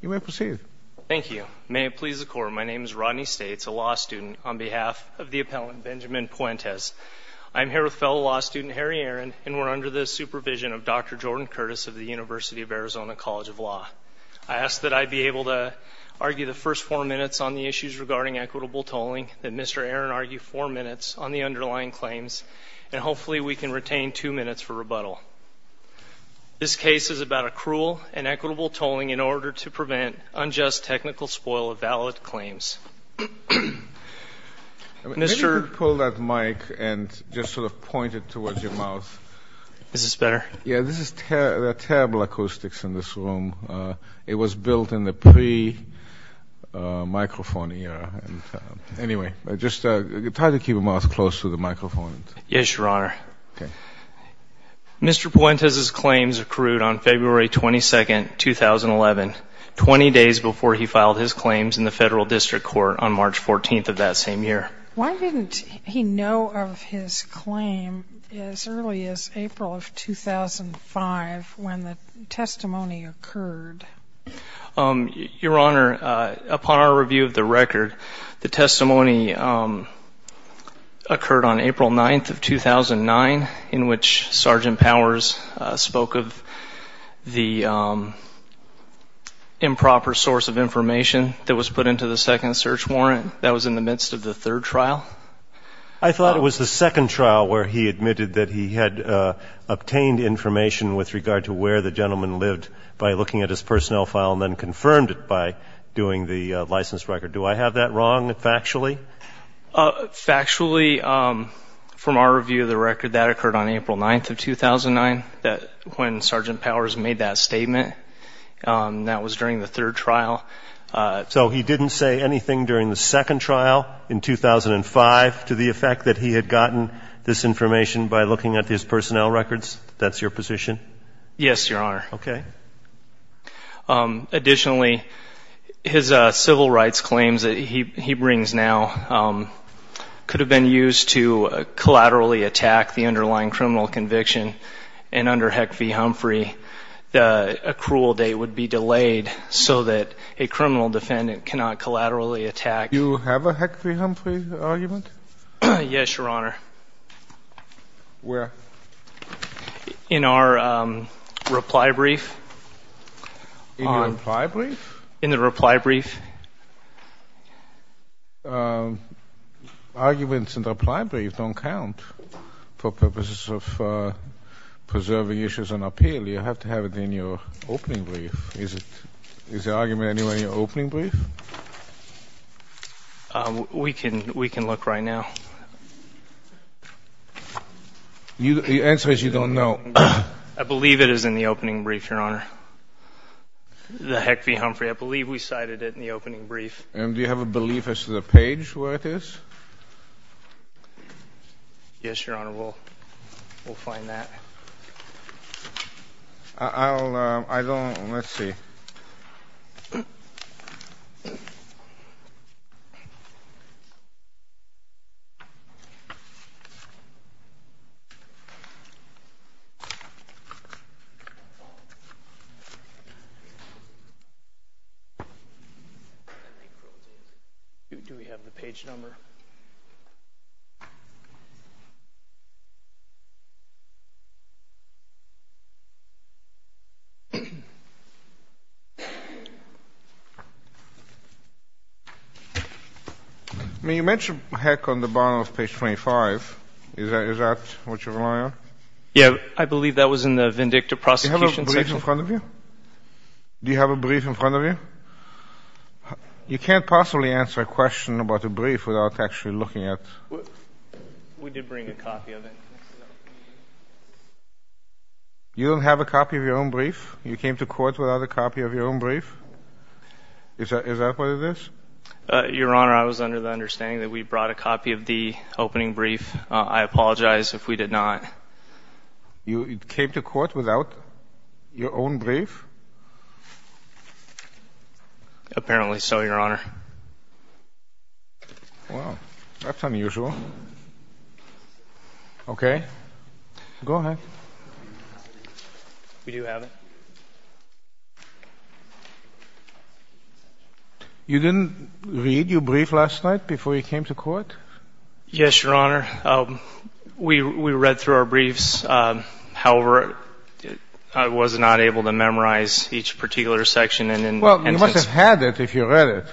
You may proceed. Thank you. May it please the Court, my name is Rodney States, a law student, on behalf of the Appellant Benjamin Puentes. I'm here with fellow law student Harry Aaron, and we're under the supervision of Dr. Jordan Curtis of the University of Arizona College of Law. I ask that I be able to argue the first four minutes on the issues regarding equitable tolling, that Mr. Aaron argue four minutes on the underlying claims, and hopefully we can retain two minutes for rebuttal. This case is about accrual and equitable tolling in order to prevent unjust technical spoil of valid claims. Mr. Maybe you could pull that mic and just sort of point it towards your mouth. Is this better? Yeah, this is terrible acoustics in this room. It was built in the pre-microphone era. Anyway, just try to keep your mouth close to the microphone. Yes, Your Honor. Okay. Mr. Puentes' claims accrued on February 22, 2011, 20 days before he filed his claims in the Federal District Court on March 14 of that same year. Why didn't he know of his claim as early as April of 2005 when the testimony occurred? Your Honor, upon our review of the record, the testimony occurred on April 9 of 2009, in which Sergeant Powers spoke of the improper source of information that was put into the second search warrant. That was in the midst of the third trial. I thought it was the second trial where he admitted that he had obtained information with regard to where the gentleman lived by looking at his personnel file and then confirmed it by doing the license record. Do I have that wrong factually? Factually, from our review of the record, that occurred on April 9 of 2009 when Sergeant Powers made that statement. That was during the third trial. So he didn't say anything during the second trial in 2005 to the effect that he had gotten this information by looking at his personnel records? That's your position? Yes, Your Honor. Okay. Additionally, his civil rights claims that he brings now could have been used to collaterally attack the underlying criminal conviction. And under Heck v. Humphrey, a cruel date would be delayed so that a criminal defendant cannot collaterally attack. Do you have a Heck v. Humphrey argument? Yes, Your Honor. Where? In our reply brief. In your reply brief? In the reply brief. Arguments in the reply brief don't count for purposes of preserving issues on appeal. You have to have it in your opening brief. Is the argument in your opening brief? We can look right now. The answer is you don't know. I believe it is in the opening brief, Your Honor. The Heck v. Humphrey, I believe we cited it in the opening brief. And do you have a belief as to the page where it is? Yes, Your Honor. We'll find that. I don't. Let's see. Do we have the page number? I mean, you mentioned Heck on the bottom of page 25. Is that what you're relying on? Yeah. I believe that was in the vindictive prosecution section. Do you have a brief in front of you? Do you have a brief in front of you? You can't possibly answer a question about a brief without actually looking at it. We did bring a copy of it. You don't have a copy of your own brief? You came to court without a copy of your own brief? Is that what it is? Your Honor, I was under the understanding that we brought a copy of the opening brief. I apologize if we did not. You came to court without your own brief? Apparently so, Your Honor. Well, that's unusual. Okay. Go ahead. We do have it. You didn't read your brief last night before you came to court? Yes, Your Honor. We read through our briefs. However, I was not able to memorize each particular section. Well, you must have had it if you read it.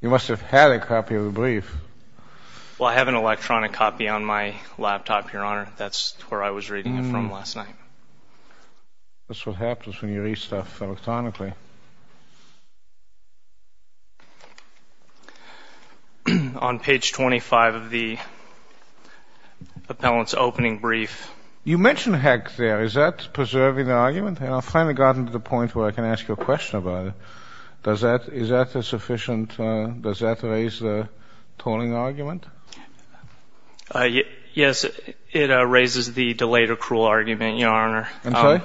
You must have had a copy of the brief. Well, I have an electronic copy on my laptop, Your Honor. That's where I was reading it from last night. That's what happens when you read stuff electronically. On page 25 of the appellant's opening brief. You mentioned heck there. Is that preserving the argument? I've finally gotten to the point where I can ask you a question about it. Does that raise the tolling argument? Yes, it raises the delayed accrual argument, Your Honor. I'm sorry?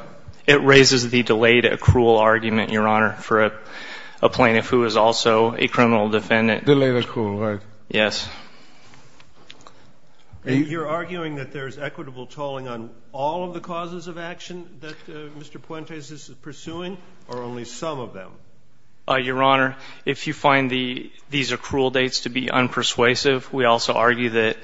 It raises the delayed accrual argument, Your Honor, for a plaintiff who is also a criminal defendant. Delayed accrual, right. Yes. You're arguing that there's equitable tolling on all of the causes of action that Mr. Puentes is pursuing or only some of them? Your Honor, if you find these accrual dates to be unpersuasive, we also argue that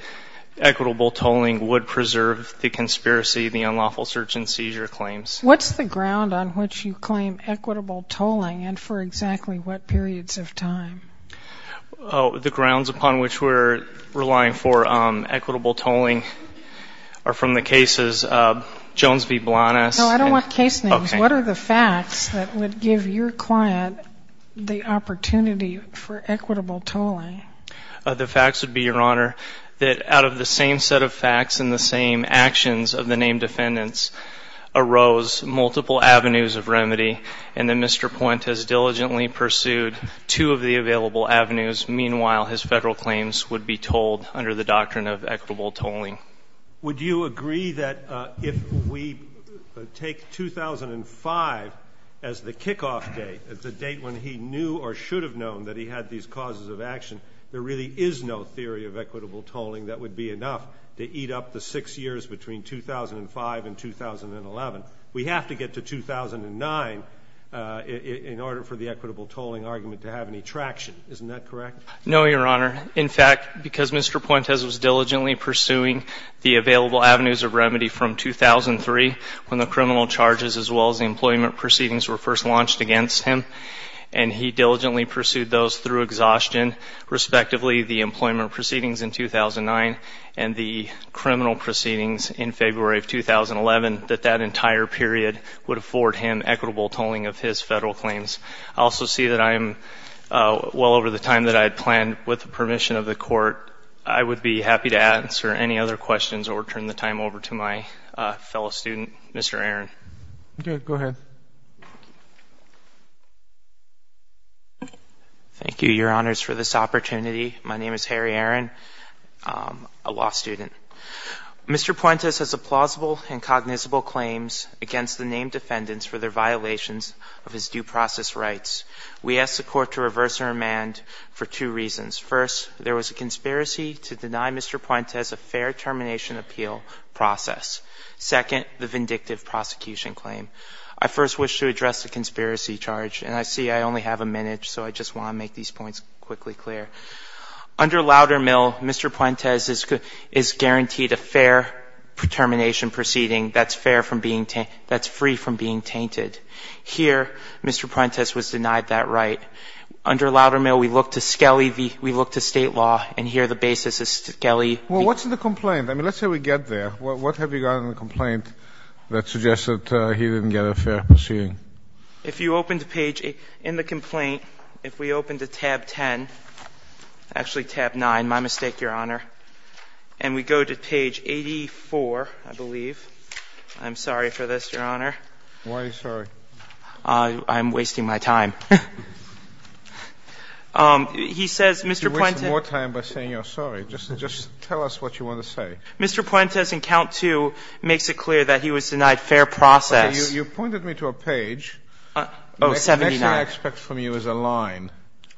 equitable tolling would preserve the conspiracy, the unlawful search and seizure claims. What's the ground on which you claim equitable tolling and for exactly what periods of time? The grounds upon which we're relying for equitable tolling are from the cases of Jones v. Blanas. No, I don't want case names. Okay. What are the facts that would give your client the opportunity for equitable tolling? The facts would be, Your Honor, that out of the same set of facts and the same actions of the named defendants arose multiple avenues of remedy, and that Mr. Puentes diligently pursued two of the available avenues. Meanwhile, his federal claims would be tolled under the doctrine of equitable tolling. Would you agree that if we take 2005 as the kickoff date, the date when he knew or should have known that he had these causes of action, there really is no theory of equitable tolling that would be enough to eat up the 6 years between 2005 and 2011? We have to get to 2009 in order for the equitable tolling argument to have any traction. Isn't that correct? No, Your Honor. In fact, because Mr. Puentes was diligently pursuing the available avenues of remedy from 2003, when the criminal charges as well as the employment proceedings were first launched against him, and he diligently pursued those through exhaustion, respectively the employment proceedings in 2009 and the criminal proceedings in February of 2011, that that entire period would afford him equitable tolling of his federal claims. I also see that I am well over the time that I had planned. With the permission of the Court, I would be happy to answer any other questions or turn the time over to my fellow student, Mr. Aaron. Go ahead. Thank you, Your Honors, for this opportunity. My name is Harry Aaron, a law student. Mr. Puentes has a plausible and cognizable claims against the named defendants for their violations of his due process rights. We ask the Court to reverse their demand for two reasons. First, there was a conspiracy to deny Mr. Puentes a fair termination appeal process. Second, the vindictive prosecution claim. I first wish to address the conspiracy charge, and I see I only have a minute, so I just want to make these points quickly clear. Under Loudermill, Mr. Puentes is guaranteed a fair termination proceeding that's fair from being tainted, that's free from being tainted. Here, Mr. Puentes was denied that right. Under Loudermill, we look to Skelly, we look to State law, and here the basis is Skelly. Well, what's in the complaint? I mean, let's say we get there. What have you got in the complaint that suggests that he didn't get a fair proceeding? If you open to page 8 in the complaint, if we open to tab 10, actually tab 9, my mistake, Your Honor, and we go to page 84, I believe. I'm sorry for this, Your Honor. Why are you sorry? I'm wasting my time. He says, Mr. Puentes You waste more time by saying you're sorry. Just tell us what you want to say. Mr. Puentes, in count 2, makes it clear that he was denied fair process. You pointed me to a page. Oh, 79. The next thing I expect from you is a line.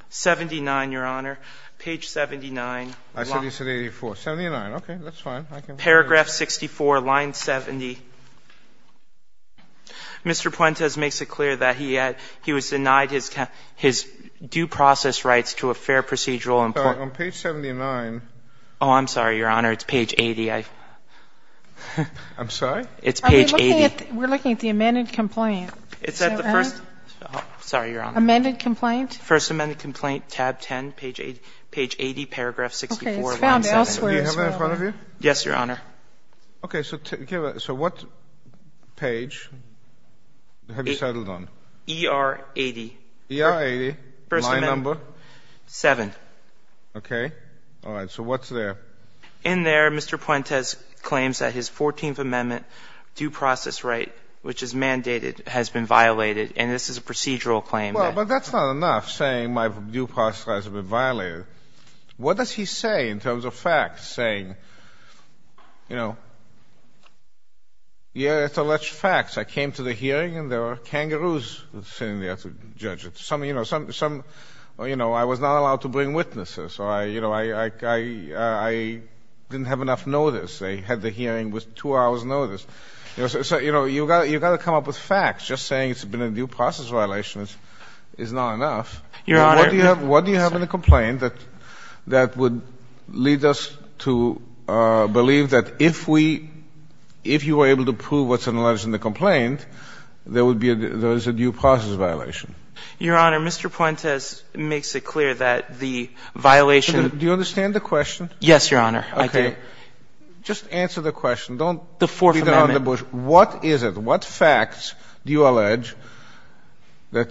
79, Your Honor. Page 79. I thought you said 84. 79. Okay. That's fine. Paragraph 64, line 70. Mr. Puentes makes it clear that he was denied his due process rights to a fair procedural employment. On page 79. Oh, I'm sorry, Your Honor. It's page 80. I'm sorry? It's page 80. We're looking at the amended complaint. Is that right? Sorry, Your Honor. Amended complaint? First amended complaint, tab 10, page 80, paragraph 64, line 70. Okay. It's found elsewhere as well. Do you have it in front of you? Yes, Your Honor. Okay. So what page have you settled on? ER 80. ER 80. Line number? 7. Okay. All right. So what's there? In there, Mr. Puentes claims that his 14th Amendment due process right, which is mandated, has been violated. And this is a procedural claim. Well, but that's not enough, saying my due process rights have been violated. What does he say in terms of facts, saying, you know, yeah, it's alleged facts. I came to the hearing, and there were kangaroos sitting there to judge it. Some, you know, some, you know, I was not allowed to bring witnesses. So, you know, I didn't have enough notice. I had the hearing with two hours' notice. So, you know, you've got to come up with facts. Just saying it's been a due process violation is not enough. Your Honor. What do you have in the complaint that would lead us to believe that if we, if you were able to prove what's alleged in the complaint, there is a due process violation? Your Honor, Mr. Puentes makes it clear that the violation. Do you understand the question? Yes, Your Honor. I do. Okay. Just answer the question. Don't beat around the bush. The Fourth Amendment. What is it? What facts do you allege that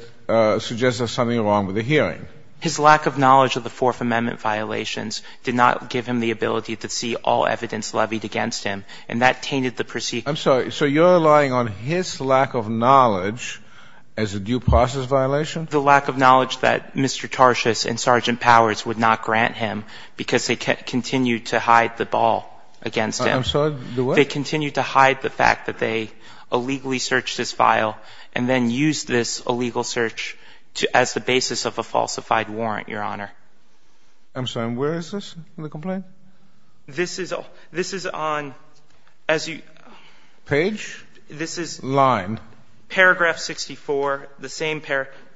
suggests there's something wrong with the hearing? His lack of knowledge of the Fourth Amendment violations did not give him the ability to see all evidence levied against him, and that tainted the procedure. I'm sorry. So you're relying on his lack of knowledge as a due process violation? The lack of knowledge that Mr. Tarshis and Sergeant Powers would not grant him because they continued to hide the ball against him. I'm sorry. The what? They continued to hide the fact that they illegally searched his file and then used this illegal search as the basis of a falsified warrant, Your Honor. I'm sorry. And where is this in the complaint? This is on, as you... Page? This is... Line. Paragraph 64, the same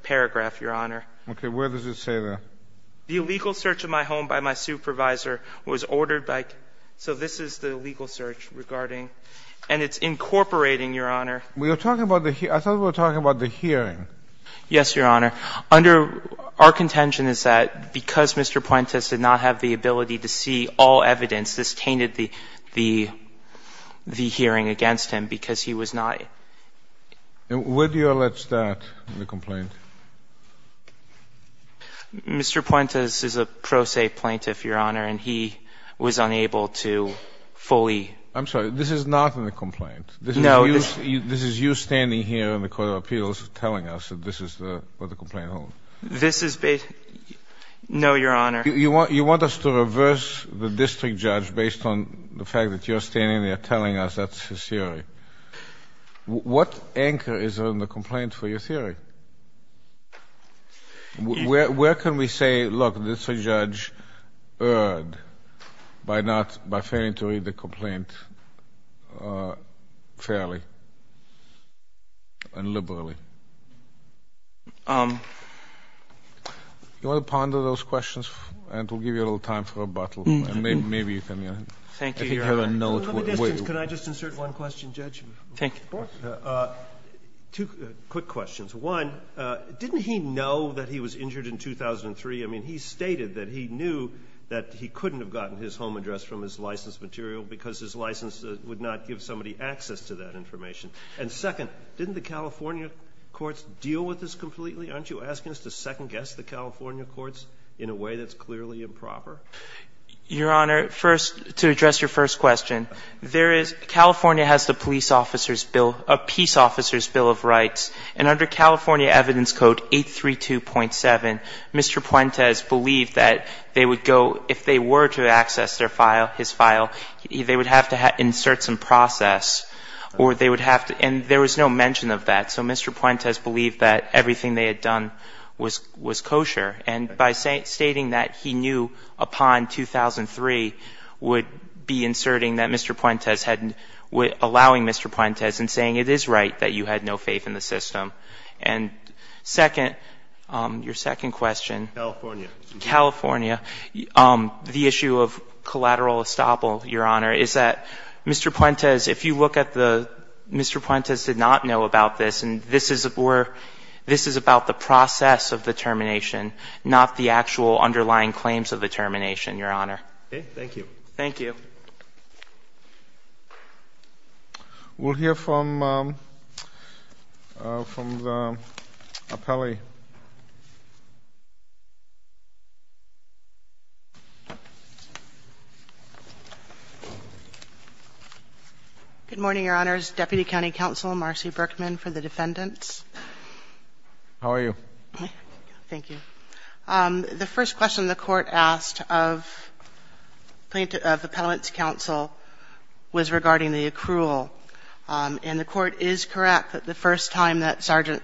paragraph, Your Honor. Okay. Where does it say that? The illegal search of my home by my supervisor was ordered by... So this is the illegal search regarding... And it's incorporating, Your Honor... We are talking about the... I thought we were talking about the hearing. Yes, Your Honor. Our contention is that because Mr. Puentes did not have the ability to see all evidence, this tainted the hearing against him because he was not... Where do you allege that in the complaint? Mr. Puentes is a pro se plaintiff, Your Honor, and he was unable to fully... I'm sorry. This is not in the complaint. No. This is you standing here in the Court of Appeals telling us that this is where the complaint is. This is based... No, Your Honor. You want us to reverse the district judge based on the fact that you're standing there telling us that's his theory. Where can we say, look, this judge erred by not...by failing to read the complaint fairly and liberally? You want to ponder those questions? It will give you a little time for rebuttal. Maybe you can... Thank you, Your Honor. I think you have a note. Can I just insert one question, Judge? Of course. Two quick questions. One, didn't he know that he was injured in 2003? I mean, he stated that he knew that he couldn't have gotten his home address from his license material because his license would not give somebody access to that information. And second, didn't the California courts deal with this completely? Aren't you asking us to second-guess the California courts in a way that's clearly improper? Your Honor, first, to address your first question, there is... a peace officer's bill of rights. And under California Evidence Code 832.7, Mr. Puentes believed that they would go... if they were to access their file, his file, they would have to insert some process or they would have to... and there was no mention of that, so Mr. Puentes believed that everything they had done was kosher. And by stating that, he knew upon 2003 would be inserting that Mr. Puentes hadn't... allowing Mr. Puentes and saying it is right that you had no faith in the system. And second, your second question. California. California. The issue of collateral estoppel, Your Honor, is that Mr. Puentes, if you look at the... this is about the process of the termination, not the actual underlying claims of the termination, Your Honor. Okay, thank you. Thank you. We'll hear from the appellee. Good morning, Your Honors. Deputy County Counsel Marcy Berkman for the defendants. How are you? Thank you. The first question the court asked of the Appellant's Counsel was regarding the accrual. And the court is correct that the first time that Sergeant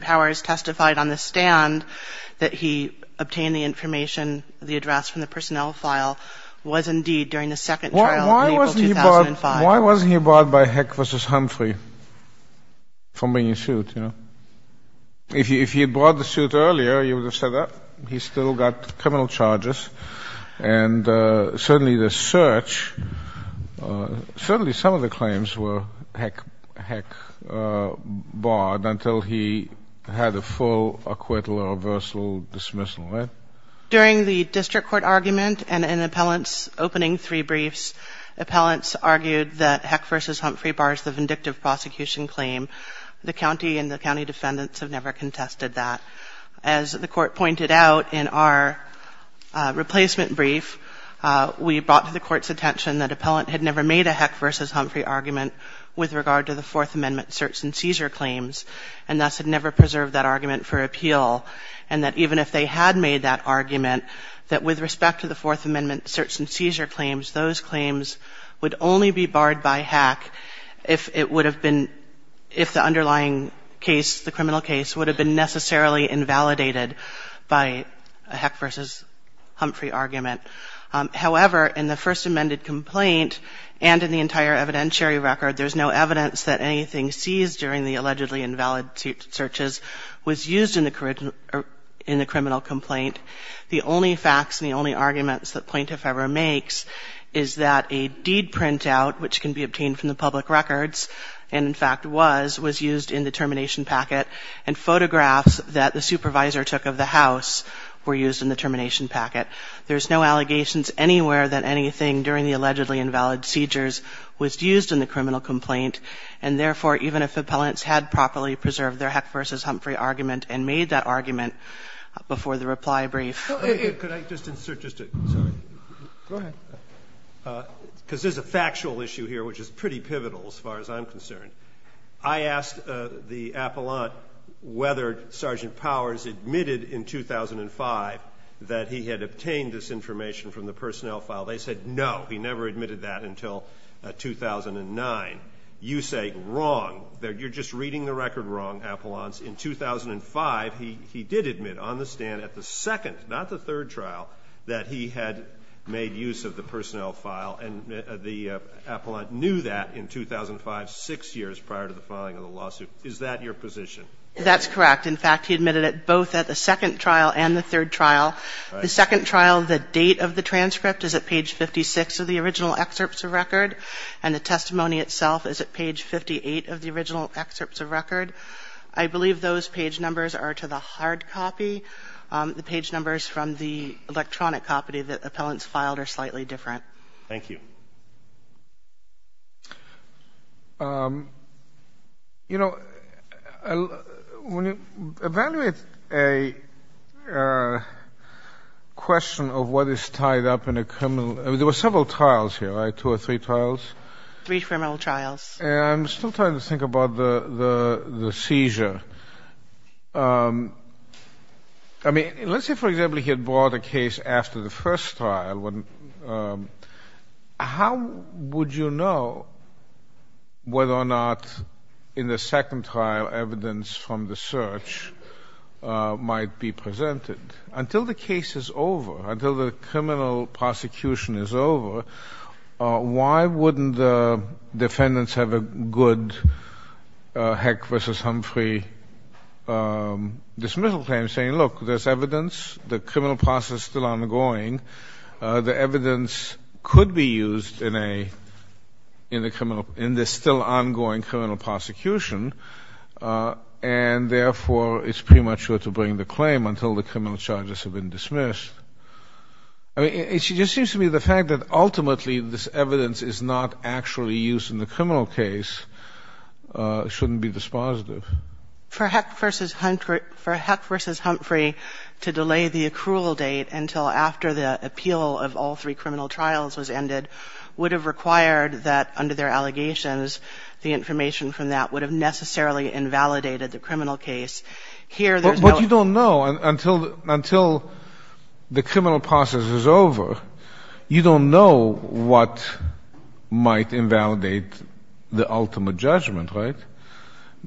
Powers testified on the stand that he obtained the information, the address from the personnel file, was indeed during the second trial in April 2005. Why wasn't he brought by Heck v. Humphrey from being in suit, you know? If he had brought the suit earlier, he would have said that. He still got criminal charges. And certainly the search, certainly some of the claims were Heck barred until he had a full acquittal or reversal dismissal, right? During the district court argument and an appellant's opening three briefs, appellants argued that Heck v. Humphrey bars the vindictive prosecution claim. The county and the county defendants have never contested that. As the court pointed out in our replacement brief, we brought to the court's attention that appellant had never made a Heck v. Humphrey argument with regard to the Fourth Amendment search and seizure claims, and thus had never preserved that argument for appeal, and that even if they had made that argument, that with respect to the Fourth Amendment search and seizure claims, those claims would only be barred by Heck if it would have been, if the underlying case, the criminal case, would have been necessarily invalidated by a Heck v. Humphrey argument. However, in the First Amendment complaint and in the entire evidentiary record, there's no evidence that anything seized during the allegedly invalid searches was used in the criminal complaint. The only facts and the only arguments that plaintiff ever makes is that a deed printout, which can be obtained from the public records, and in fact was, was used in the termination packet, and photographs that the supervisor took of the house were used in the termination packet. There's no allegations anywhere that anything during the allegedly invalid seizures was used in the criminal complaint, and therefore, even if appellants had properly preserved their Heck v. Humphrey argument and made that argument before the reply brief. Go ahead. Because there's a factual issue here, which is pretty pivotal as far as I'm concerned. I asked the appellant whether Sergeant Powers admitted in 2005 that he had obtained this information from the personnel file. They said no. He never admitted that until 2009. You say wrong. You're just reading the record wrong, appellants. In 2005, he did admit on the stand at the second, not the third trial, that he had made use of the personnel file, and the appellant knew that in 2005, six years prior to the filing of the lawsuit. Is that your position? That's correct. In fact, he admitted it both at the second trial and the third trial. The second trial, the date of the transcript is at page 56 of the original excerpts of record, and the testimony itself is at page 58 of the original excerpts of record. I believe those page numbers are to the hard copy. The page numbers from the electronic copy that appellants filed are slightly different. Thank you. You know, when you evaluate a question of what is tied up in a criminal, there were several trials here, right, two or three trials? Three criminal trials. I'm still trying to think about the seizure. I mean, let's say, for example, he had brought a case after the first trial. How would you know whether or not in the second trial evidence from the search might be presented? Until the case is over, until the criminal prosecution is over, why wouldn't the defendants have a good heck versus Humphrey dismissal claim saying, look, there's evidence, the criminal process is still ongoing, the evidence could be used in this still ongoing criminal prosecution, and therefore it's premature to bring the claim until the criminal charges have been dismissed. I mean, it just seems to me the fact that ultimately this evidence is not actually used in the criminal case shouldn't be dispositive. For heck versus Humphrey to delay the accrual date until after the appeal of all three criminal trials was ended would have required that under their allegations, the information from that would have necessarily invalidated the criminal case. But you don't know. Until the criminal process is over, you don't know what might invalidate the ultimate judgment, right?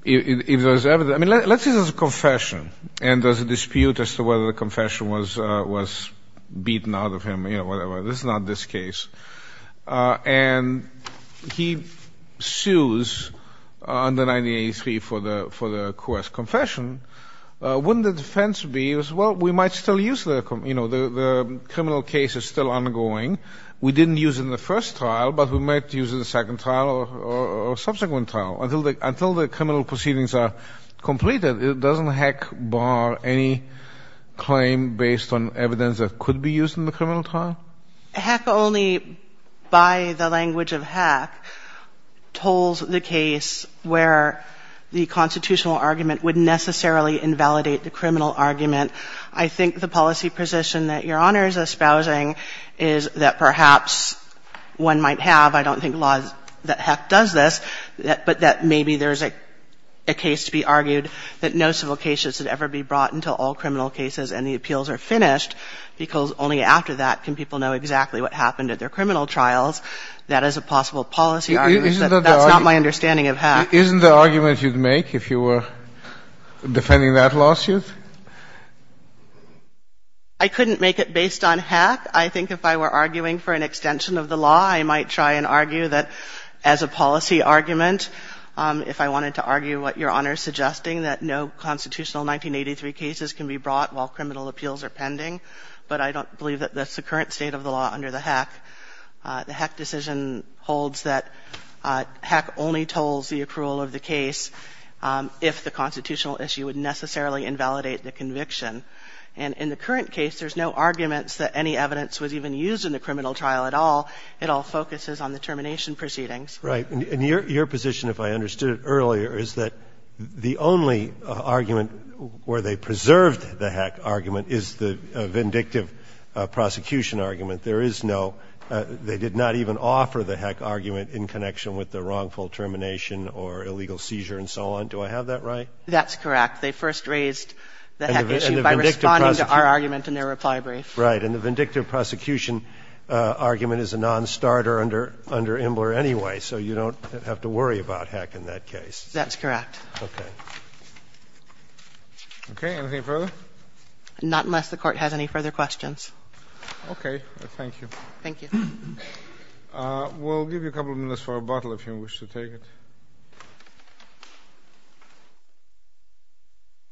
If there's evidence. I mean, let's say there's a confession and there's a dispute as to whether the confession was beaten out of him, you know, whatever. This is not this case. And he sues under 1983 for the coerced confession. Wouldn't the defense be, well, we might still use the, you know, the criminal case is still ongoing. We didn't use it in the first trial, but we might use it in the second trial or subsequent trial. Until the criminal proceedings are completed, doesn't heck bar any claim based on evidence that could be used in the criminal trial? Heck only, by the language of heck, tolls the case where the constitutional argument would necessarily invalidate the criminal argument. I think the policy position that Your Honor is espousing is that perhaps one might have, I don't think law that heck does this, but that maybe there's a case to be argued that no civil case should ever be brought until all criminal cases and the appeals are finished because only after that can people know exactly what happened at their criminal trials. That is a possible policy argument. That's not my understanding of heck. Isn't the argument you'd make if you were defending that lawsuit? I couldn't make it based on heck. I think if I were arguing for an extension of the law, I might try and argue that as a policy argument, if I wanted to argue what Your Honor is suggesting, that no constitutional 1983 cases can be brought while criminal appeals are pending. But I don't believe that that's the current state of the law under the heck. The heck decision holds that heck only tolls the approval of the case if the constitutional issue would necessarily invalidate the conviction. And in the current case, there's no arguments that any evidence was even used in the criminal trial at all. It all focuses on the termination proceedings. Right. And your position, if I understood it earlier, is that the only argument where they preserved the heck argument is the vindictive prosecution argument. There is no – they did not even offer the heck argument in connection with the wrongful termination or illegal seizure and so on. Do I have that right? That's correct. They first raised the heck issue by responding to our argument in their reply brief. Right. And the vindictive prosecution argument is a nonstarter under Imbler anyway, so you don't have to worry about heck in that case. That's correct. Okay. Okay. Anything further? Not unless the Court has any further questions. Okay. Thank you. Thank you. We'll give you a couple of minutes for a bottle if you wish to take it.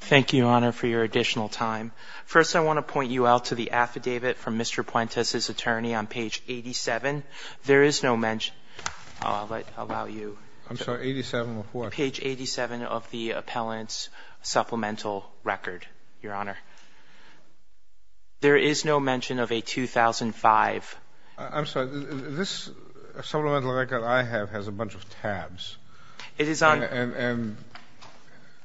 Thank you, Your Honor, for your additional time. First, I want to point you out to the affidavit from Mr. Puentes' attorney on page 87. There is no mention – I'll allow you. I'm sorry. 87 of what? Page 87 of the appellant's supplemental record, Your Honor. There is no mention of a 2005 – I'm sorry. This supplemental record I have has a bunch of tabs. It is on – And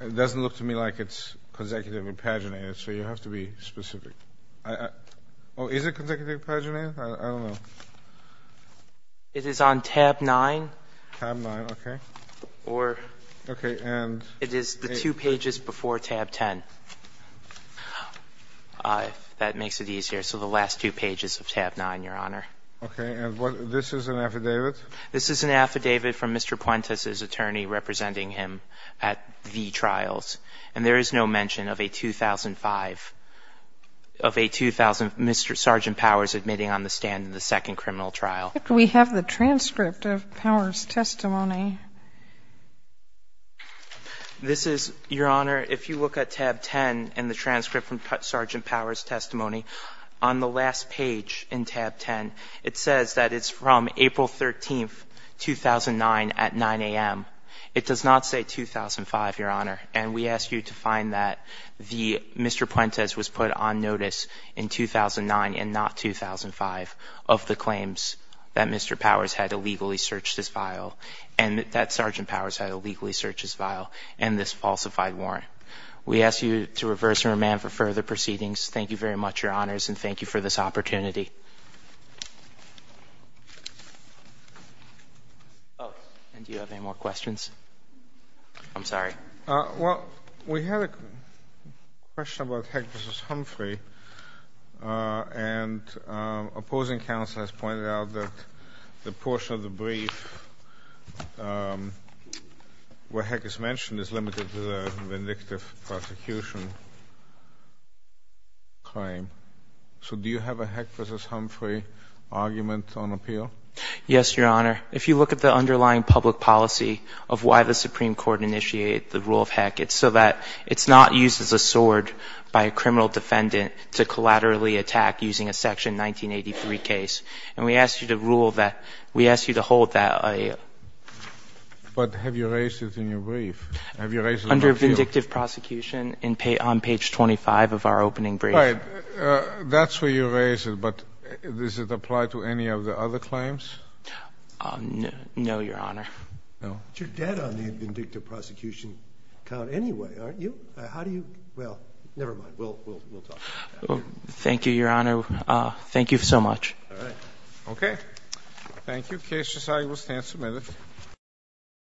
it doesn't look to me like it's consecutively paginated, so you have to be specific. Is it consecutively paginated? I don't know. It is on tab 9. Tab 9. Okay. Or it is the two pages before tab 10. That makes it easier. So the last two pages of tab 9, Your Honor. Okay. And this is an affidavit? This is an affidavit from Mr. Puentes' attorney representing him at the trials, and there is no mention of a 2005 – of a 2000 – Mr. Sergeant Powers admitting on the stand in the second criminal trial. We have the transcript of Powers' testimony. This is – Your Honor, if you look at tab 10 and the transcript from Sergeant Powers' testimony, on the last page in tab 10, it says that it's from April 13, 2009 at 9 a.m. It does not say 2005, Your Honor. And we ask you to find that the – Mr. Puentes was put on notice in 2009 and not 2005 of the claims that Mr. Powers had illegally searched his file and that Sergeant Powers had illegally searched his file and this falsified warrant. We ask you to reverse and remand for further proceedings. Thank you very much, Your Honors, and thank you for this opportunity. Oh, and do you have any more questions? I'm sorry. Well, we have a question about Heck v. Humphrey, and opposing counsel has pointed out that the portion of the brief where Heck is mentioned is limited to the vindictive prosecution claim. So do you have a Heck v. Humphrey argument on appeal? Yes, Your Honor. If you look at the underlying public policy of why the Supreme Court initiated the rule of Heck, it's so that it's not used as a sword by a criminal defendant to collaterally attack using a Section 1983 case. And we ask you to rule that – we ask you to hold that. But have you raised it in your brief? Have you raised it on appeal? Under vindictive prosecution on page 25 of our opening brief. Right. That's where you raised it, but does it apply to any of the other claims? No, Your Honor. No? But you're dead on the vindictive prosecution count anyway, aren't you? How do you – well, never mind. We'll talk about that. Thank you, Your Honor. Thank you so much. All right. Okay. Thank you. Case decided.